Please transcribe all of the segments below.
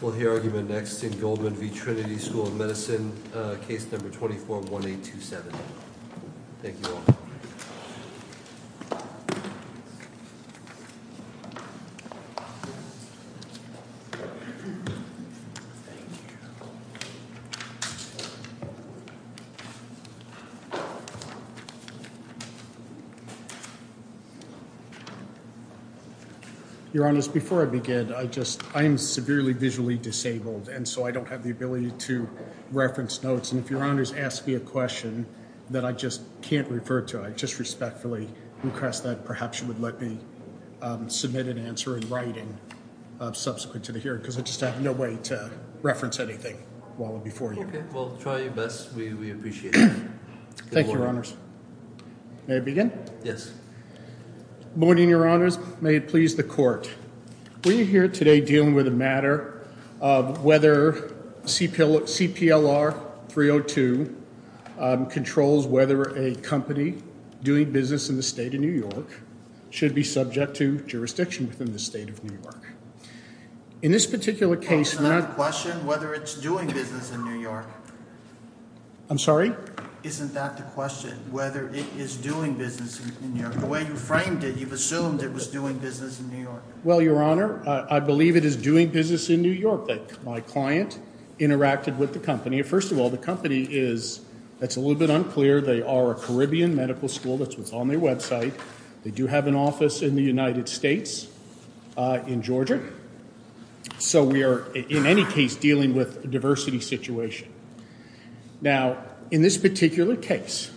We'll hear argument next in Goldman v. Trinity School of Medicine, case number 241827. Thank you all. Your Honors, before I begin, I am severely visually disabled, and so I don't have the ability to reference notes. And if Your Honors ask me a question that I just can't refer to, I just respectfully request that perhaps you would let me submit an answer in writing subsequent to the hearing, because I just have no way to reference anything while I'm before you. Okay. Well, try your best. We appreciate it. Thank you, Your Honors. May I begin? Yes. Good morning, Your Honors. May it please the Court. We're here today dealing with a matter of whether CPLR 302 controls whether a company doing business in the state of New York should be subject to jurisdiction within the state of New York. In this particular case... Isn't that the question, whether it's doing business in New York? I'm sorry? Isn't that the question, whether it is doing business in New York? The way you framed it, you've assumed it was doing business in New York. Well, Your Honor, I believe it is doing business in New York. My client interacted with the company. First of all, the company is – that's a little bit unclear. They are a Caribbean medical school. That's what's on their website. They do have an office in the United States, in Georgia. So we are, in any case, dealing with a diversity situation. Now, in this particular case,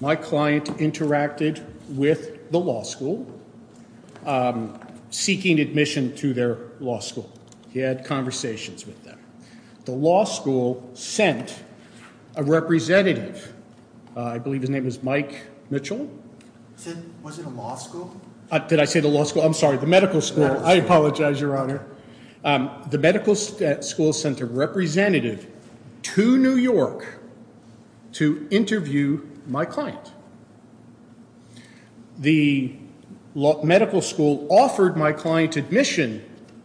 my client interacted with the law school, seeking admission to their law school. He had conversations with them. The law school sent a representative. I believe his name was Mike Mitchell. Was it a law school? Did I say the law school? I'm sorry, the medical school. I apologize, Your Honor. The medical school sent a representative to New York to interview my client. The medical school offered my client admission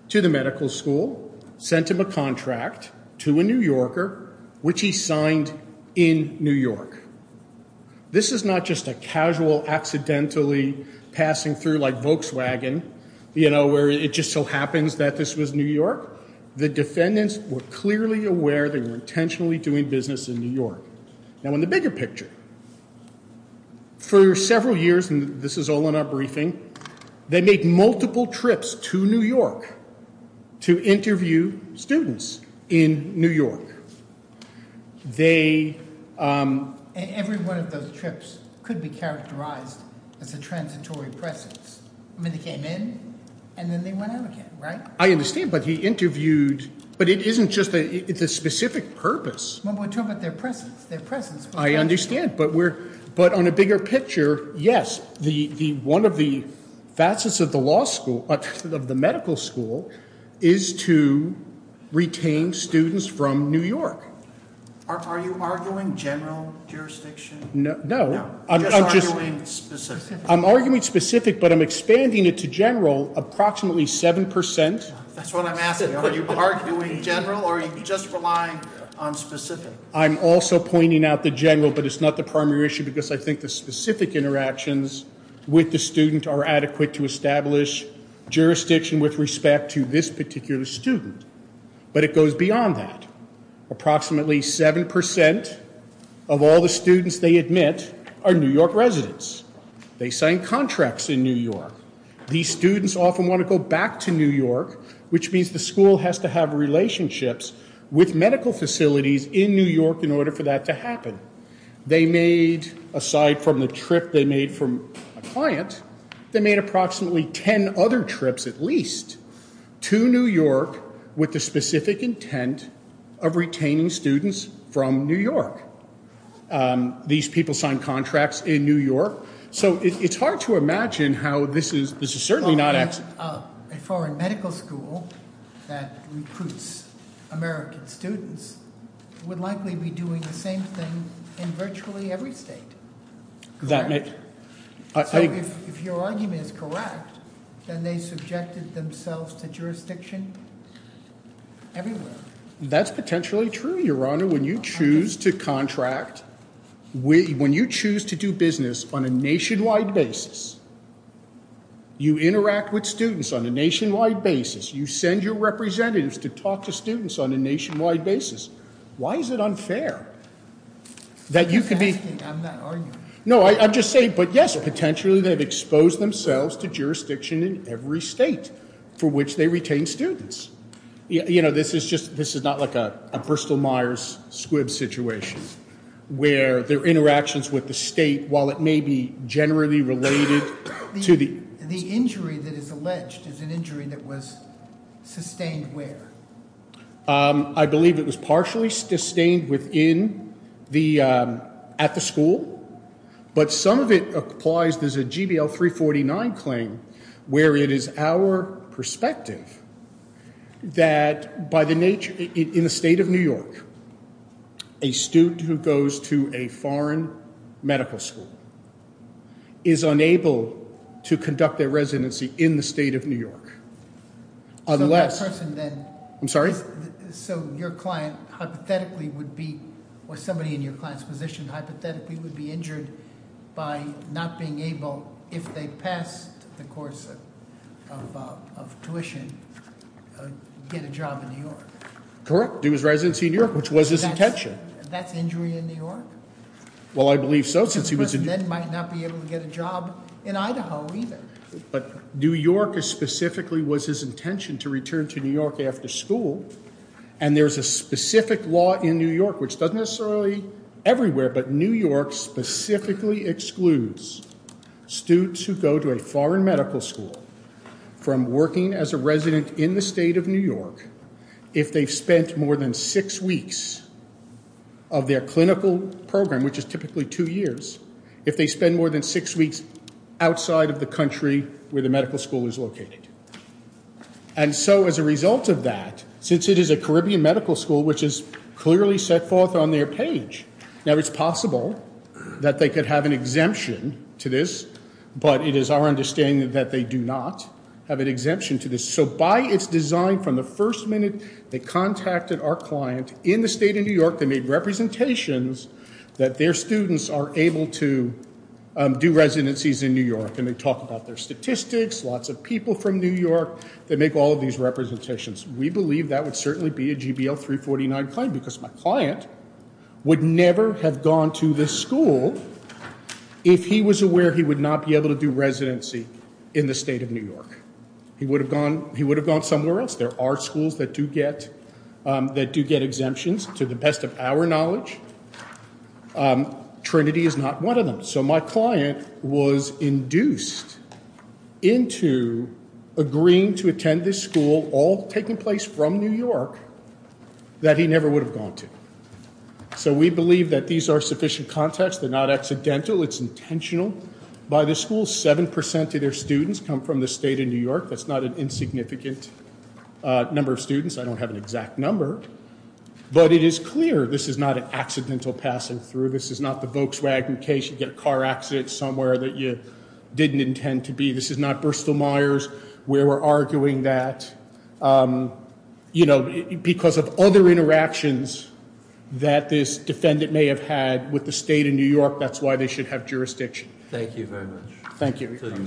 to the medical school, sent him a contract to a New Yorker, which he signed in New York. This is not just a casual, accidentally passing through like Volkswagen, you know, where it just so happens that this was New York. The defendants were clearly aware they were intentionally doing business in New York. Now, in the bigger picture, for several years – and this is all in our briefing – they made multiple trips to New York to interview students in New York. Every one of those trips could be characterized as a transitory presence. I mean, they came in, and then they went out again, right? I understand, but he interviewed – but it isn't just – it's a specific purpose. Well, we're talking about their presence. Their presence. I understand, but on a bigger picture, yes, one of the facets of the law school – of the medical school – is to retain students from New York. Are you arguing general jurisdiction? No. Just arguing specific. I'm arguing specific, but I'm expanding it to general approximately 7 percent. That's what I'm asking. Are you arguing general, or are you just relying on specific? I'm also pointing out the general, but it's not the primary issue, because I think the specific interactions with the student are adequate to establish jurisdiction with respect to this particular student. But it goes beyond that. Approximately 7 percent of all the students they admit are New York residents. They sign contracts in New York. These students often want to go back to New York, which means the school has to have relationships with medical facilities in New York in order for that to happen. They made, aside from the trip they made from a client, they made approximately 10 other trips at least to New York with the specific intent of retaining students from New York. These people signed contracts in New York. So it's hard to imagine how this is – this is certainly not – A foreign medical school that recruits American students would likely be doing the same thing in virtually every state, correct? That may – So if your argument is correct, then they subjected themselves to jurisdiction everywhere. That's potentially true, Your Honor. When you choose to contract – when you choose to do business on a nationwide basis, you interact with students on a nationwide basis. You send your representatives to talk to students on a nationwide basis. Why is it unfair that you could be – I'm not arguing. No, I'm just saying, but yes, potentially they've exposed themselves to jurisdiction in every state for which they retain students. You know, this is just – this is not like a Bristol-Myers-Squibb situation where their interactions with the state, while it may be generally related to the – The injury that is alleged is an injury that was sustained where? I believe it was partially sustained within the – at the school. But some of it applies – there's a GBL 349 claim where it is our perspective that by the nature – in the state of New York, a student who goes to a foreign medical school is unable to conduct their residency in the state of New York. So that person then – I'm sorry? So your client hypothetically would be – or somebody in your client's position hypothetically would be injured by not being able, if they passed the course of tuition, get a job in New York. Correct. Do his residency in New York, which was his intention. That's injury in New York? Well, I believe so, since he was – The person then might not be able to get a job in Idaho either. But New York specifically was his intention to return to New York after school. And there's a specific law in New York, which doesn't necessarily – everywhere, but New York specifically excludes students who go to a foreign medical school from working as a resident in the state of New York if they've spent more than six weeks of their clinical program, which is typically two years. If they spend more than six weeks outside of the country where the medical school is located. And so, as a result of that, since it is a Caribbean medical school, which is clearly set forth on their page – Now, it's possible that they could have an exemption to this, but it is our understanding that they do not have an exemption to this. So, by its design, from the first minute they contacted our client in the state of New York, they made representations that their students are able to do residencies in New York. And they talk about their statistics, lots of people from New York that make all of these representations. We believe that would certainly be a GBL 349 claim because my client would never have gone to this school if he was aware he would not be able to do residency in the state of New York. He would have gone somewhere else. There are schools that do get exemptions, to the best of our knowledge. Trinity is not one of them. So, my client was induced into agreeing to attend this school, all taking place from New York, that he never would have gone to. So, we believe that these are sufficient contacts. They're not accidental. It's intentional. By this school, 7% of their students come from the state of New York. That's not an insignificant number of students. I don't have an exact number. But it is clear this is not an accidental passing through. This is not the Volkswagen case. You get a car accident somewhere that you didn't intend to be. This is not Bristol-Myers. We were arguing that. You know, because of other interactions that this defendant may have had with the state of New York, that's why they should have jurisdiction. Thank you very much. Thank you. Thank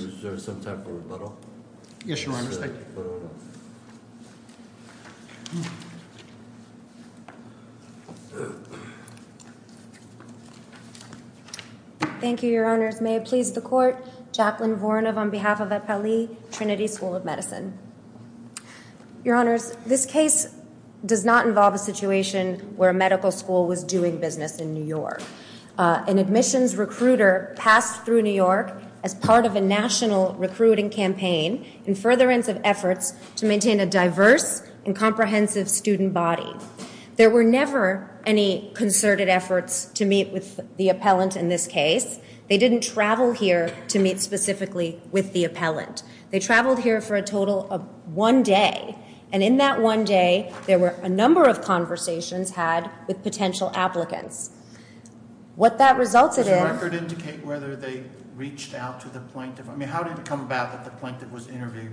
you, Your Honors. May it please the Court, Jacqueline Voronov on behalf of Appellee Trinity School of Medicine. Your Honors, this case does not involve a situation where a medical school was doing business in New York. An admissions recruiter passed through New York as part of a national recruiting campaign in furtherance of efforts to maintain a diverse and comprehensive student body. There were never any concerted efforts to meet with the appellant in this case. They didn't travel here to meet specifically with the appellant. They traveled here for a total of one day. And in that one day, there were a number of conversations had with potential applicants. What that resulted in— Does your record indicate whether they reached out to the plaintiff? I mean, how did it come about that the plaintiff was interviewed?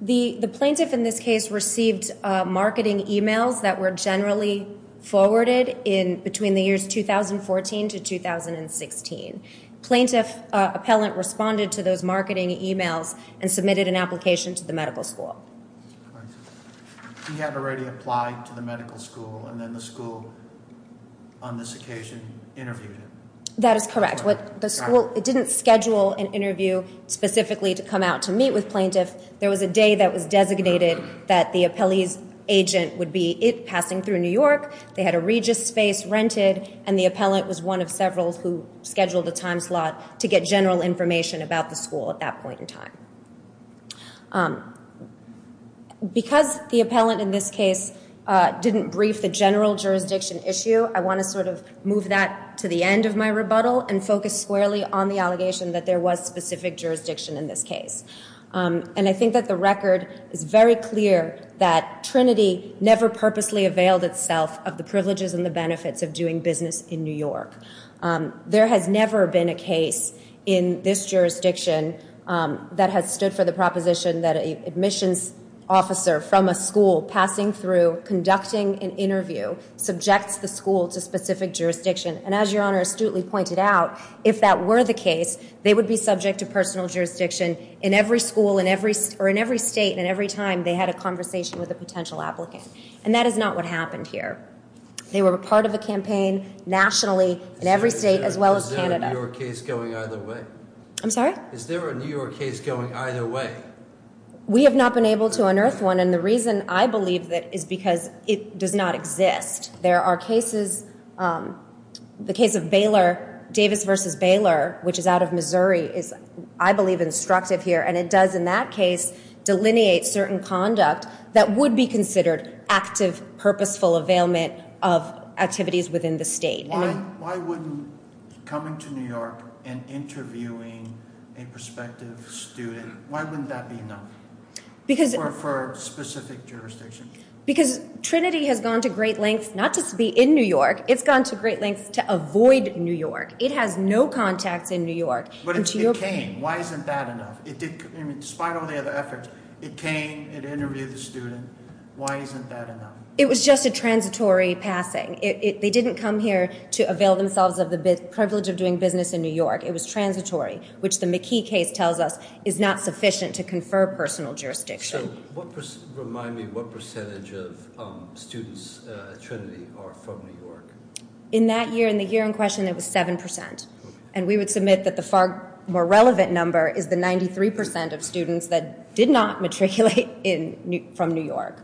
The plaintiff in this case received marketing emails that were generally forwarded between the years 2014 to 2016. Plaintiff appellant responded to those marketing emails and submitted an application to the medical school. He had already applied to the medical school, and then the school, on this occasion, interviewed him. That is correct. It didn't schedule an interview specifically to come out to meet with plaintiff. There was a day that was designated that the appellee's agent would be passing through New York. They had a Regis space rented, and the appellant was one of several who scheduled a time slot to get general information about the school at that point in time. Because the appellant in this case didn't brief the general jurisdiction issue, I want to sort of move that to the end of my rebuttal and focus squarely on the allegation that there was specific jurisdiction in this case. And I think that the record is very clear that Trinity never purposely availed itself of the privileges and the benefits of doing business in New York. There has never been a case in this jurisdiction that has stood for the proposition that an admissions officer from a school passing through, conducting an interview, subjects the school to specific jurisdiction. And as Your Honor astutely pointed out, if that were the case, they would be subject to personal jurisdiction in every school or in every state and every time they had a conversation with a potential applicant. And that is not what happened here. They were part of a campaign nationally in every state as well as Canada. Is there a New York case going either way? I'm sorry? Is there a New York case going either way? We have not been able to unearth one, and the reason I believe that is because it does not exist. There are cases, the case of Baylor, Davis versus Baylor, which is out of Missouri, is I believe instructive here. And it does in that case delineate certain conduct that would be considered active, purposeful availment of activities within the state. Why wouldn't coming to New York and interviewing a prospective student, why wouldn't that be enough for specific jurisdiction? Because Trinity has gone to great lengths not just to be in New York, it's gone to great lengths to avoid New York. It has no contacts in New York. But it came. Why isn't that enough? Despite all the other efforts, it came, it interviewed the student. Why isn't that enough? It was just a transitory passing. They didn't come here to avail themselves of the privilege of doing business in New York. It was transitory, which the McKee case tells us is not sufficient to confer personal jurisdiction. So remind me, what percentage of students at Trinity are from New York? In that year, in the year in question, it was 7%. And we would submit that the far more relevant number is the 93% of students that did not matriculate from New York.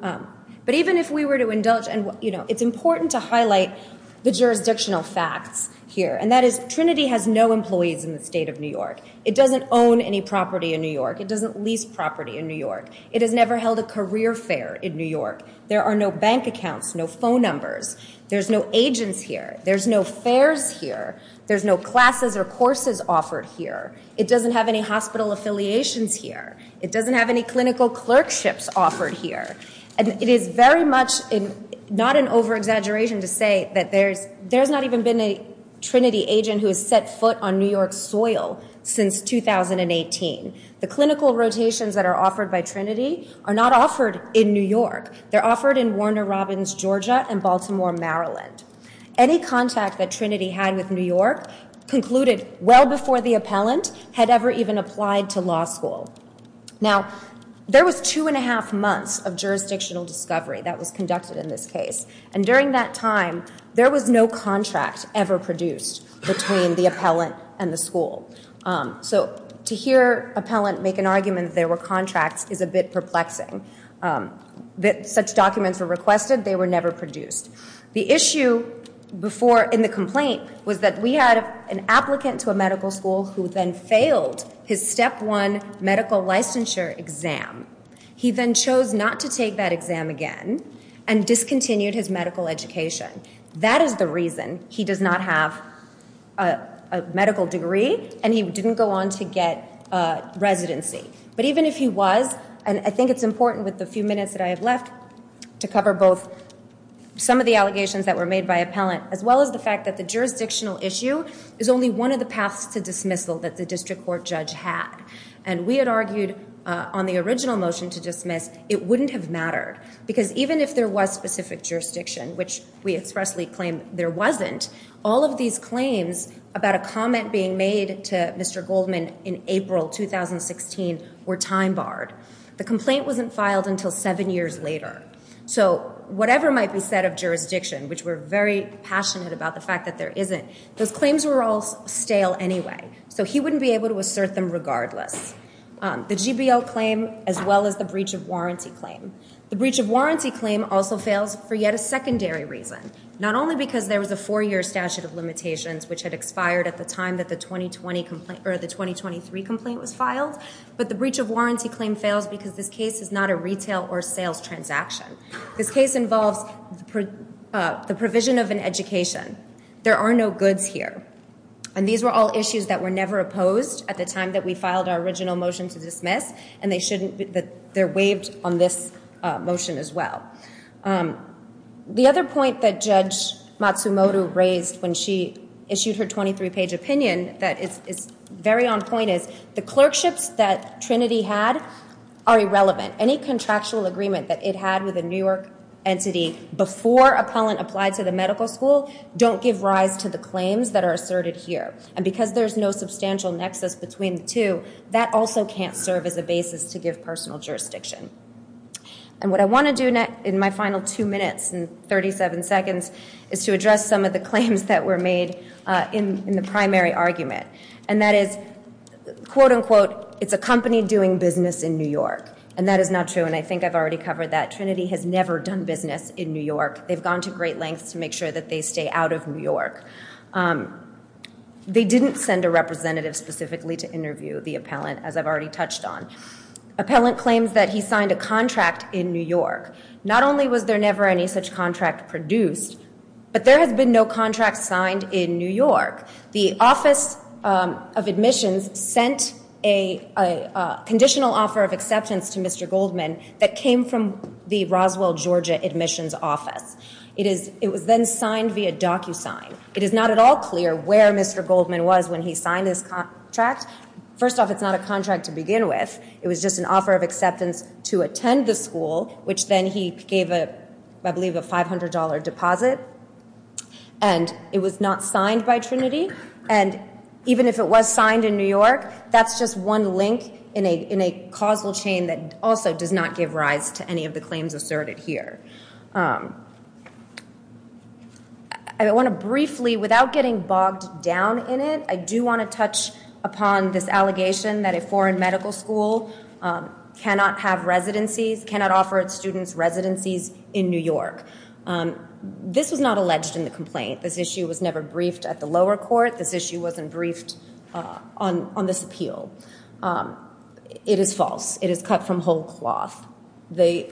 But even if we were to indulge, and it's important to highlight the jurisdictional facts here. And that is Trinity has no employees in the state of New York. It doesn't own any property in New York. It doesn't lease property in New York. It has never held a career fair in New York. There are no bank accounts, no phone numbers. There's no agents here. There's no fairs here. There's no classes or courses offered here. It doesn't have any hospital affiliations here. It doesn't have any clinical clerkships offered here. And it is very much not an over-exaggeration to say that there's not even been a Trinity agent who has set foot on New York's soil since 2018. The clinical rotations that are offered by Trinity are not offered in New York. They're offered in Warner Robins, Georgia, and Baltimore, Maryland. Any contact that Trinity had with New York concluded well before the appellant had ever even applied to law school. Now, there was two and a half months of jurisdictional discovery that was conducted in this case. And during that time, there was no contract ever produced between the appellant and the school. So to hear appellant make an argument that there were contracts is a bit perplexing. Such documents were requested. They were never produced. The issue before in the complaint was that we had an applicant to a medical school who then failed his step one medical licensure exam. He then chose not to take that exam again and discontinued his medical education. That is the reason he does not have a medical degree and he didn't go on to get residency. But even if he was, and I think it's important with the few minutes that I have left to cover both some of the allegations that were made by appellant, as well as the fact that the jurisdictional issue is only one of the paths to dismissal that the district court judge had. And we had argued on the original motion to dismiss, it wouldn't have mattered. Because even if there was specific jurisdiction, which we expressly claim there wasn't, all of these claims about a comment being made to Mr. Goldman in April 2016 were time barred. The complaint wasn't filed until seven years later. So whatever might be said of jurisdiction, which we're very passionate about the fact that there isn't, those claims were all stale anyway. So he wouldn't be able to assert them regardless. The GBO claim as well as the breach of warranty claim. The breach of warranty claim also fails for yet a secondary reason. Not only because there was a four-year statute of limitations which had expired at the time that the 2020 complaint, or the 2023 complaint was filed, but the breach of warranty claim fails because this case is not a retail or sales transaction. This case involves the provision of an education. There are no goods here. And these were all issues that were never opposed at the time that we filed our original motion to dismiss. And they shouldn't be, they're waived on this motion as well. The other point that Judge Matsumoto raised when she issued her 23-page opinion that is very on point is, the clerkships that Trinity had are irrelevant. Any contractual agreement that it had with a New York entity before appellant applied to the medical school don't give rise to the claims that are asserted here. And because there's no substantial nexus between the two, that also can't serve as a basis to give personal jurisdiction. And what I want to do in my final two minutes and 37 seconds is to address some of the claims that were made in the primary argument. And that is, quote unquote, it's a company doing business in New York. And that is not true, and I think I've already covered that. Trinity has never done business in New York. They've gone to great lengths to make sure that they stay out of New York. They didn't send a representative specifically to interview the appellant, as I've already touched on. Appellant claims that he signed a contract in New York. Not only was there never any such contract produced, but there has been no contract signed in New York. The Office of Admissions sent a conditional offer of acceptance to Mr. Goldman that came from the Roswell, Georgia Admissions Office. It was then signed via DocuSign. It is not at all clear where Mr. Goldman was when he signed his contract. First off, it's not a contract to begin with. It was just an offer of acceptance to attend the school, which then he gave, I believe, a $500 deposit. And it was not signed by Trinity. And even if it was signed in New York, that's just one link in a causal chain that also does not give rise to any of the claims asserted here. I want to briefly, without getting bogged down in it, I do want to touch upon this allegation that a foreign medical school cannot have residencies, cannot offer its students residencies in New York. This was not alleged in the complaint. This issue was never briefed at the lower court. This issue wasn't briefed on this appeal. It is false. It is cut from whole cloth. The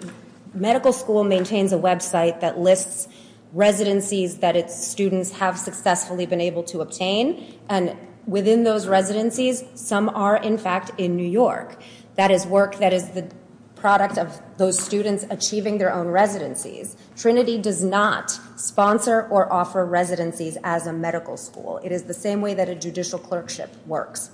medical school maintains a website that lists residencies that its students have successfully been able to obtain. And within those residencies, some are, in fact, in New York. That is work that is the product of those students achieving their own residencies. Trinity does not sponsor or offer residencies as a medical school. It is the same way that a judicial clerkship works.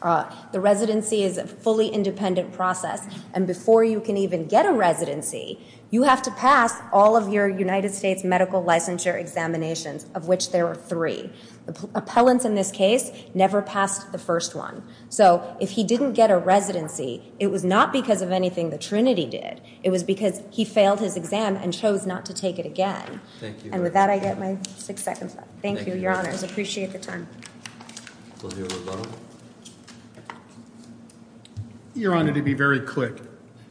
The residency is a fully independent process. And before you can even get a residency, you have to pass all of your United States medical licensure examinations, of which there are three. The appellants in this case never passed the first one. So if he didn't get a residency, it was not because of anything that Trinity did. It was because he failed his exam and chose not to take it again. And with that, I get my six seconds up. Thank you, Your Honors. I appreciate the time. Your Honor, to be very quick.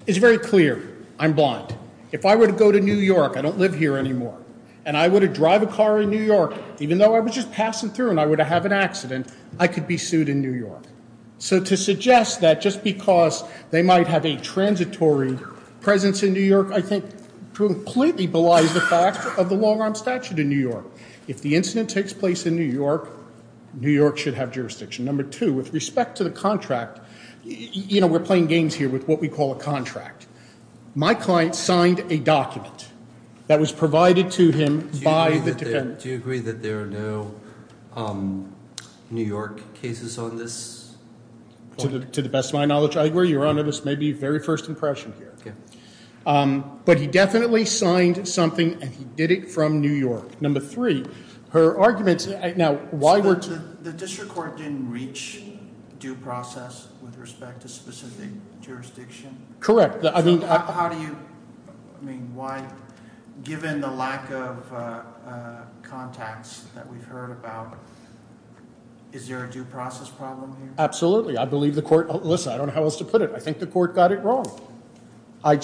It's very clear. I'm blind. If I were to go to New York, I don't live here anymore, and I were to drive a car in New York, even though I was just passing through and I were to have an accident, I could be sued in New York. So to suggest that just because they might have a transitory presence in New York, I think completely belies the fact of the long-arm statute in New York. If the incident takes place in New York, New York should have jurisdiction. Number two, with respect to the contract, you know, we're playing games here with what we call a contract. My client signed a document that was provided to him by the defendant. Do you agree that there are no New York cases on this? To the best of my knowledge, I agree. Your Honor, this may be very first impression here. But he definitely signed something, and he did it from New York. Number three, her arguments – now, why were – So the district court didn't reach due process with respect to specific jurisdiction? Correct. How do you – I mean, why – given the lack of contacts that we've heard about, is there a due process problem here? Absolutely. I believe the court – listen, I don't know how else to put it. I think the court got it wrong. I'm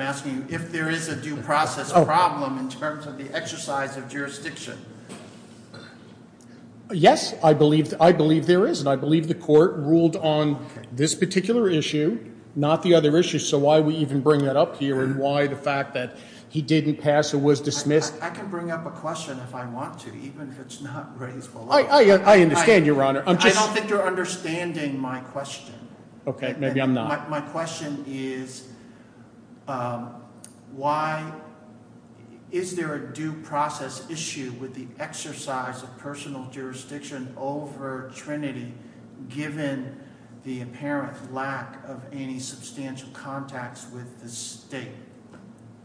asking you if there is a due process problem in terms of the exercise of jurisdiction. Yes, I believe there is, and I believe the court ruled on this particular issue, not the other issues. So why we even bring that up here, and why the fact that he didn't pass or was dismissed – I can bring up a question if I want to, even if it's not raised – I understand, Your Honor. I'm just – I don't think you're understanding my question. Okay. Maybe I'm not. My question is why – is there a due process issue with the exercise of personal jurisdiction over Trinity, given the apparent lack of any substantial contacts with the state?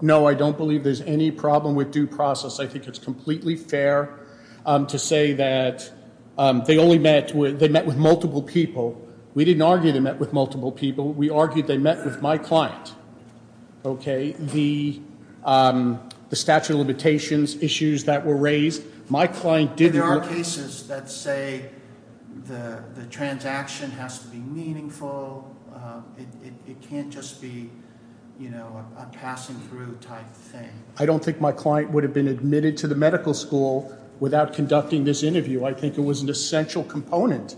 No, I don't believe there's any problem with due process. I think it's completely fair to say that they only met – they met with multiple people. We didn't argue they met with multiple people. We argued they met with my client, okay, the statute of limitations issues that were raised. My client did – There are cases that say the transaction has to be meaningful. It can't just be, you know, a passing through type thing. I don't think my client would have been admitted to the medical school without conducting this interview. I think it was an essential component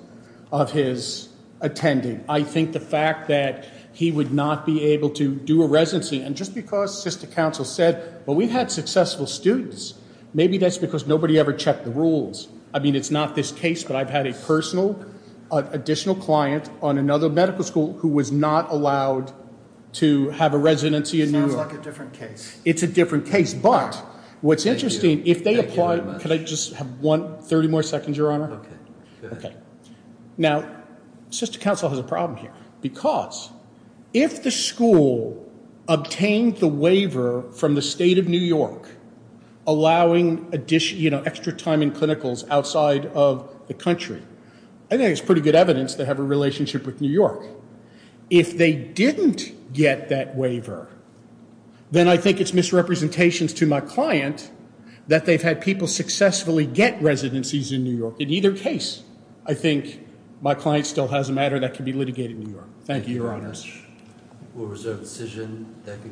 of his attending. I think the fact that he would not be able to do a residency – and just because sister counsel said, well, we had successful students, maybe that's because nobody ever checked the rules. I mean, it's not this case, but I've had a personal – an additional client on another medical school who was not allowed to have a residency in New York. Sounds like a different case. It's a different case, but what's interesting – Thank you. Thank you very much. Can I just have 30 more seconds, Your Honor? Okay. Now, sister counsel has a problem here because if the school obtained the waiver from the state of New York allowing extra time in clinicals outside of the country, I think it's pretty good evidence they have a relationship with New York. If they didn't get that waiver, then I think it's misrepresentations to my client that they've had people successfully get residencies in New York. In either case, I think my client still has a matter that can be litigated in New York. Thank you, Your Honor. Thank you very much. We'll reserve the decision.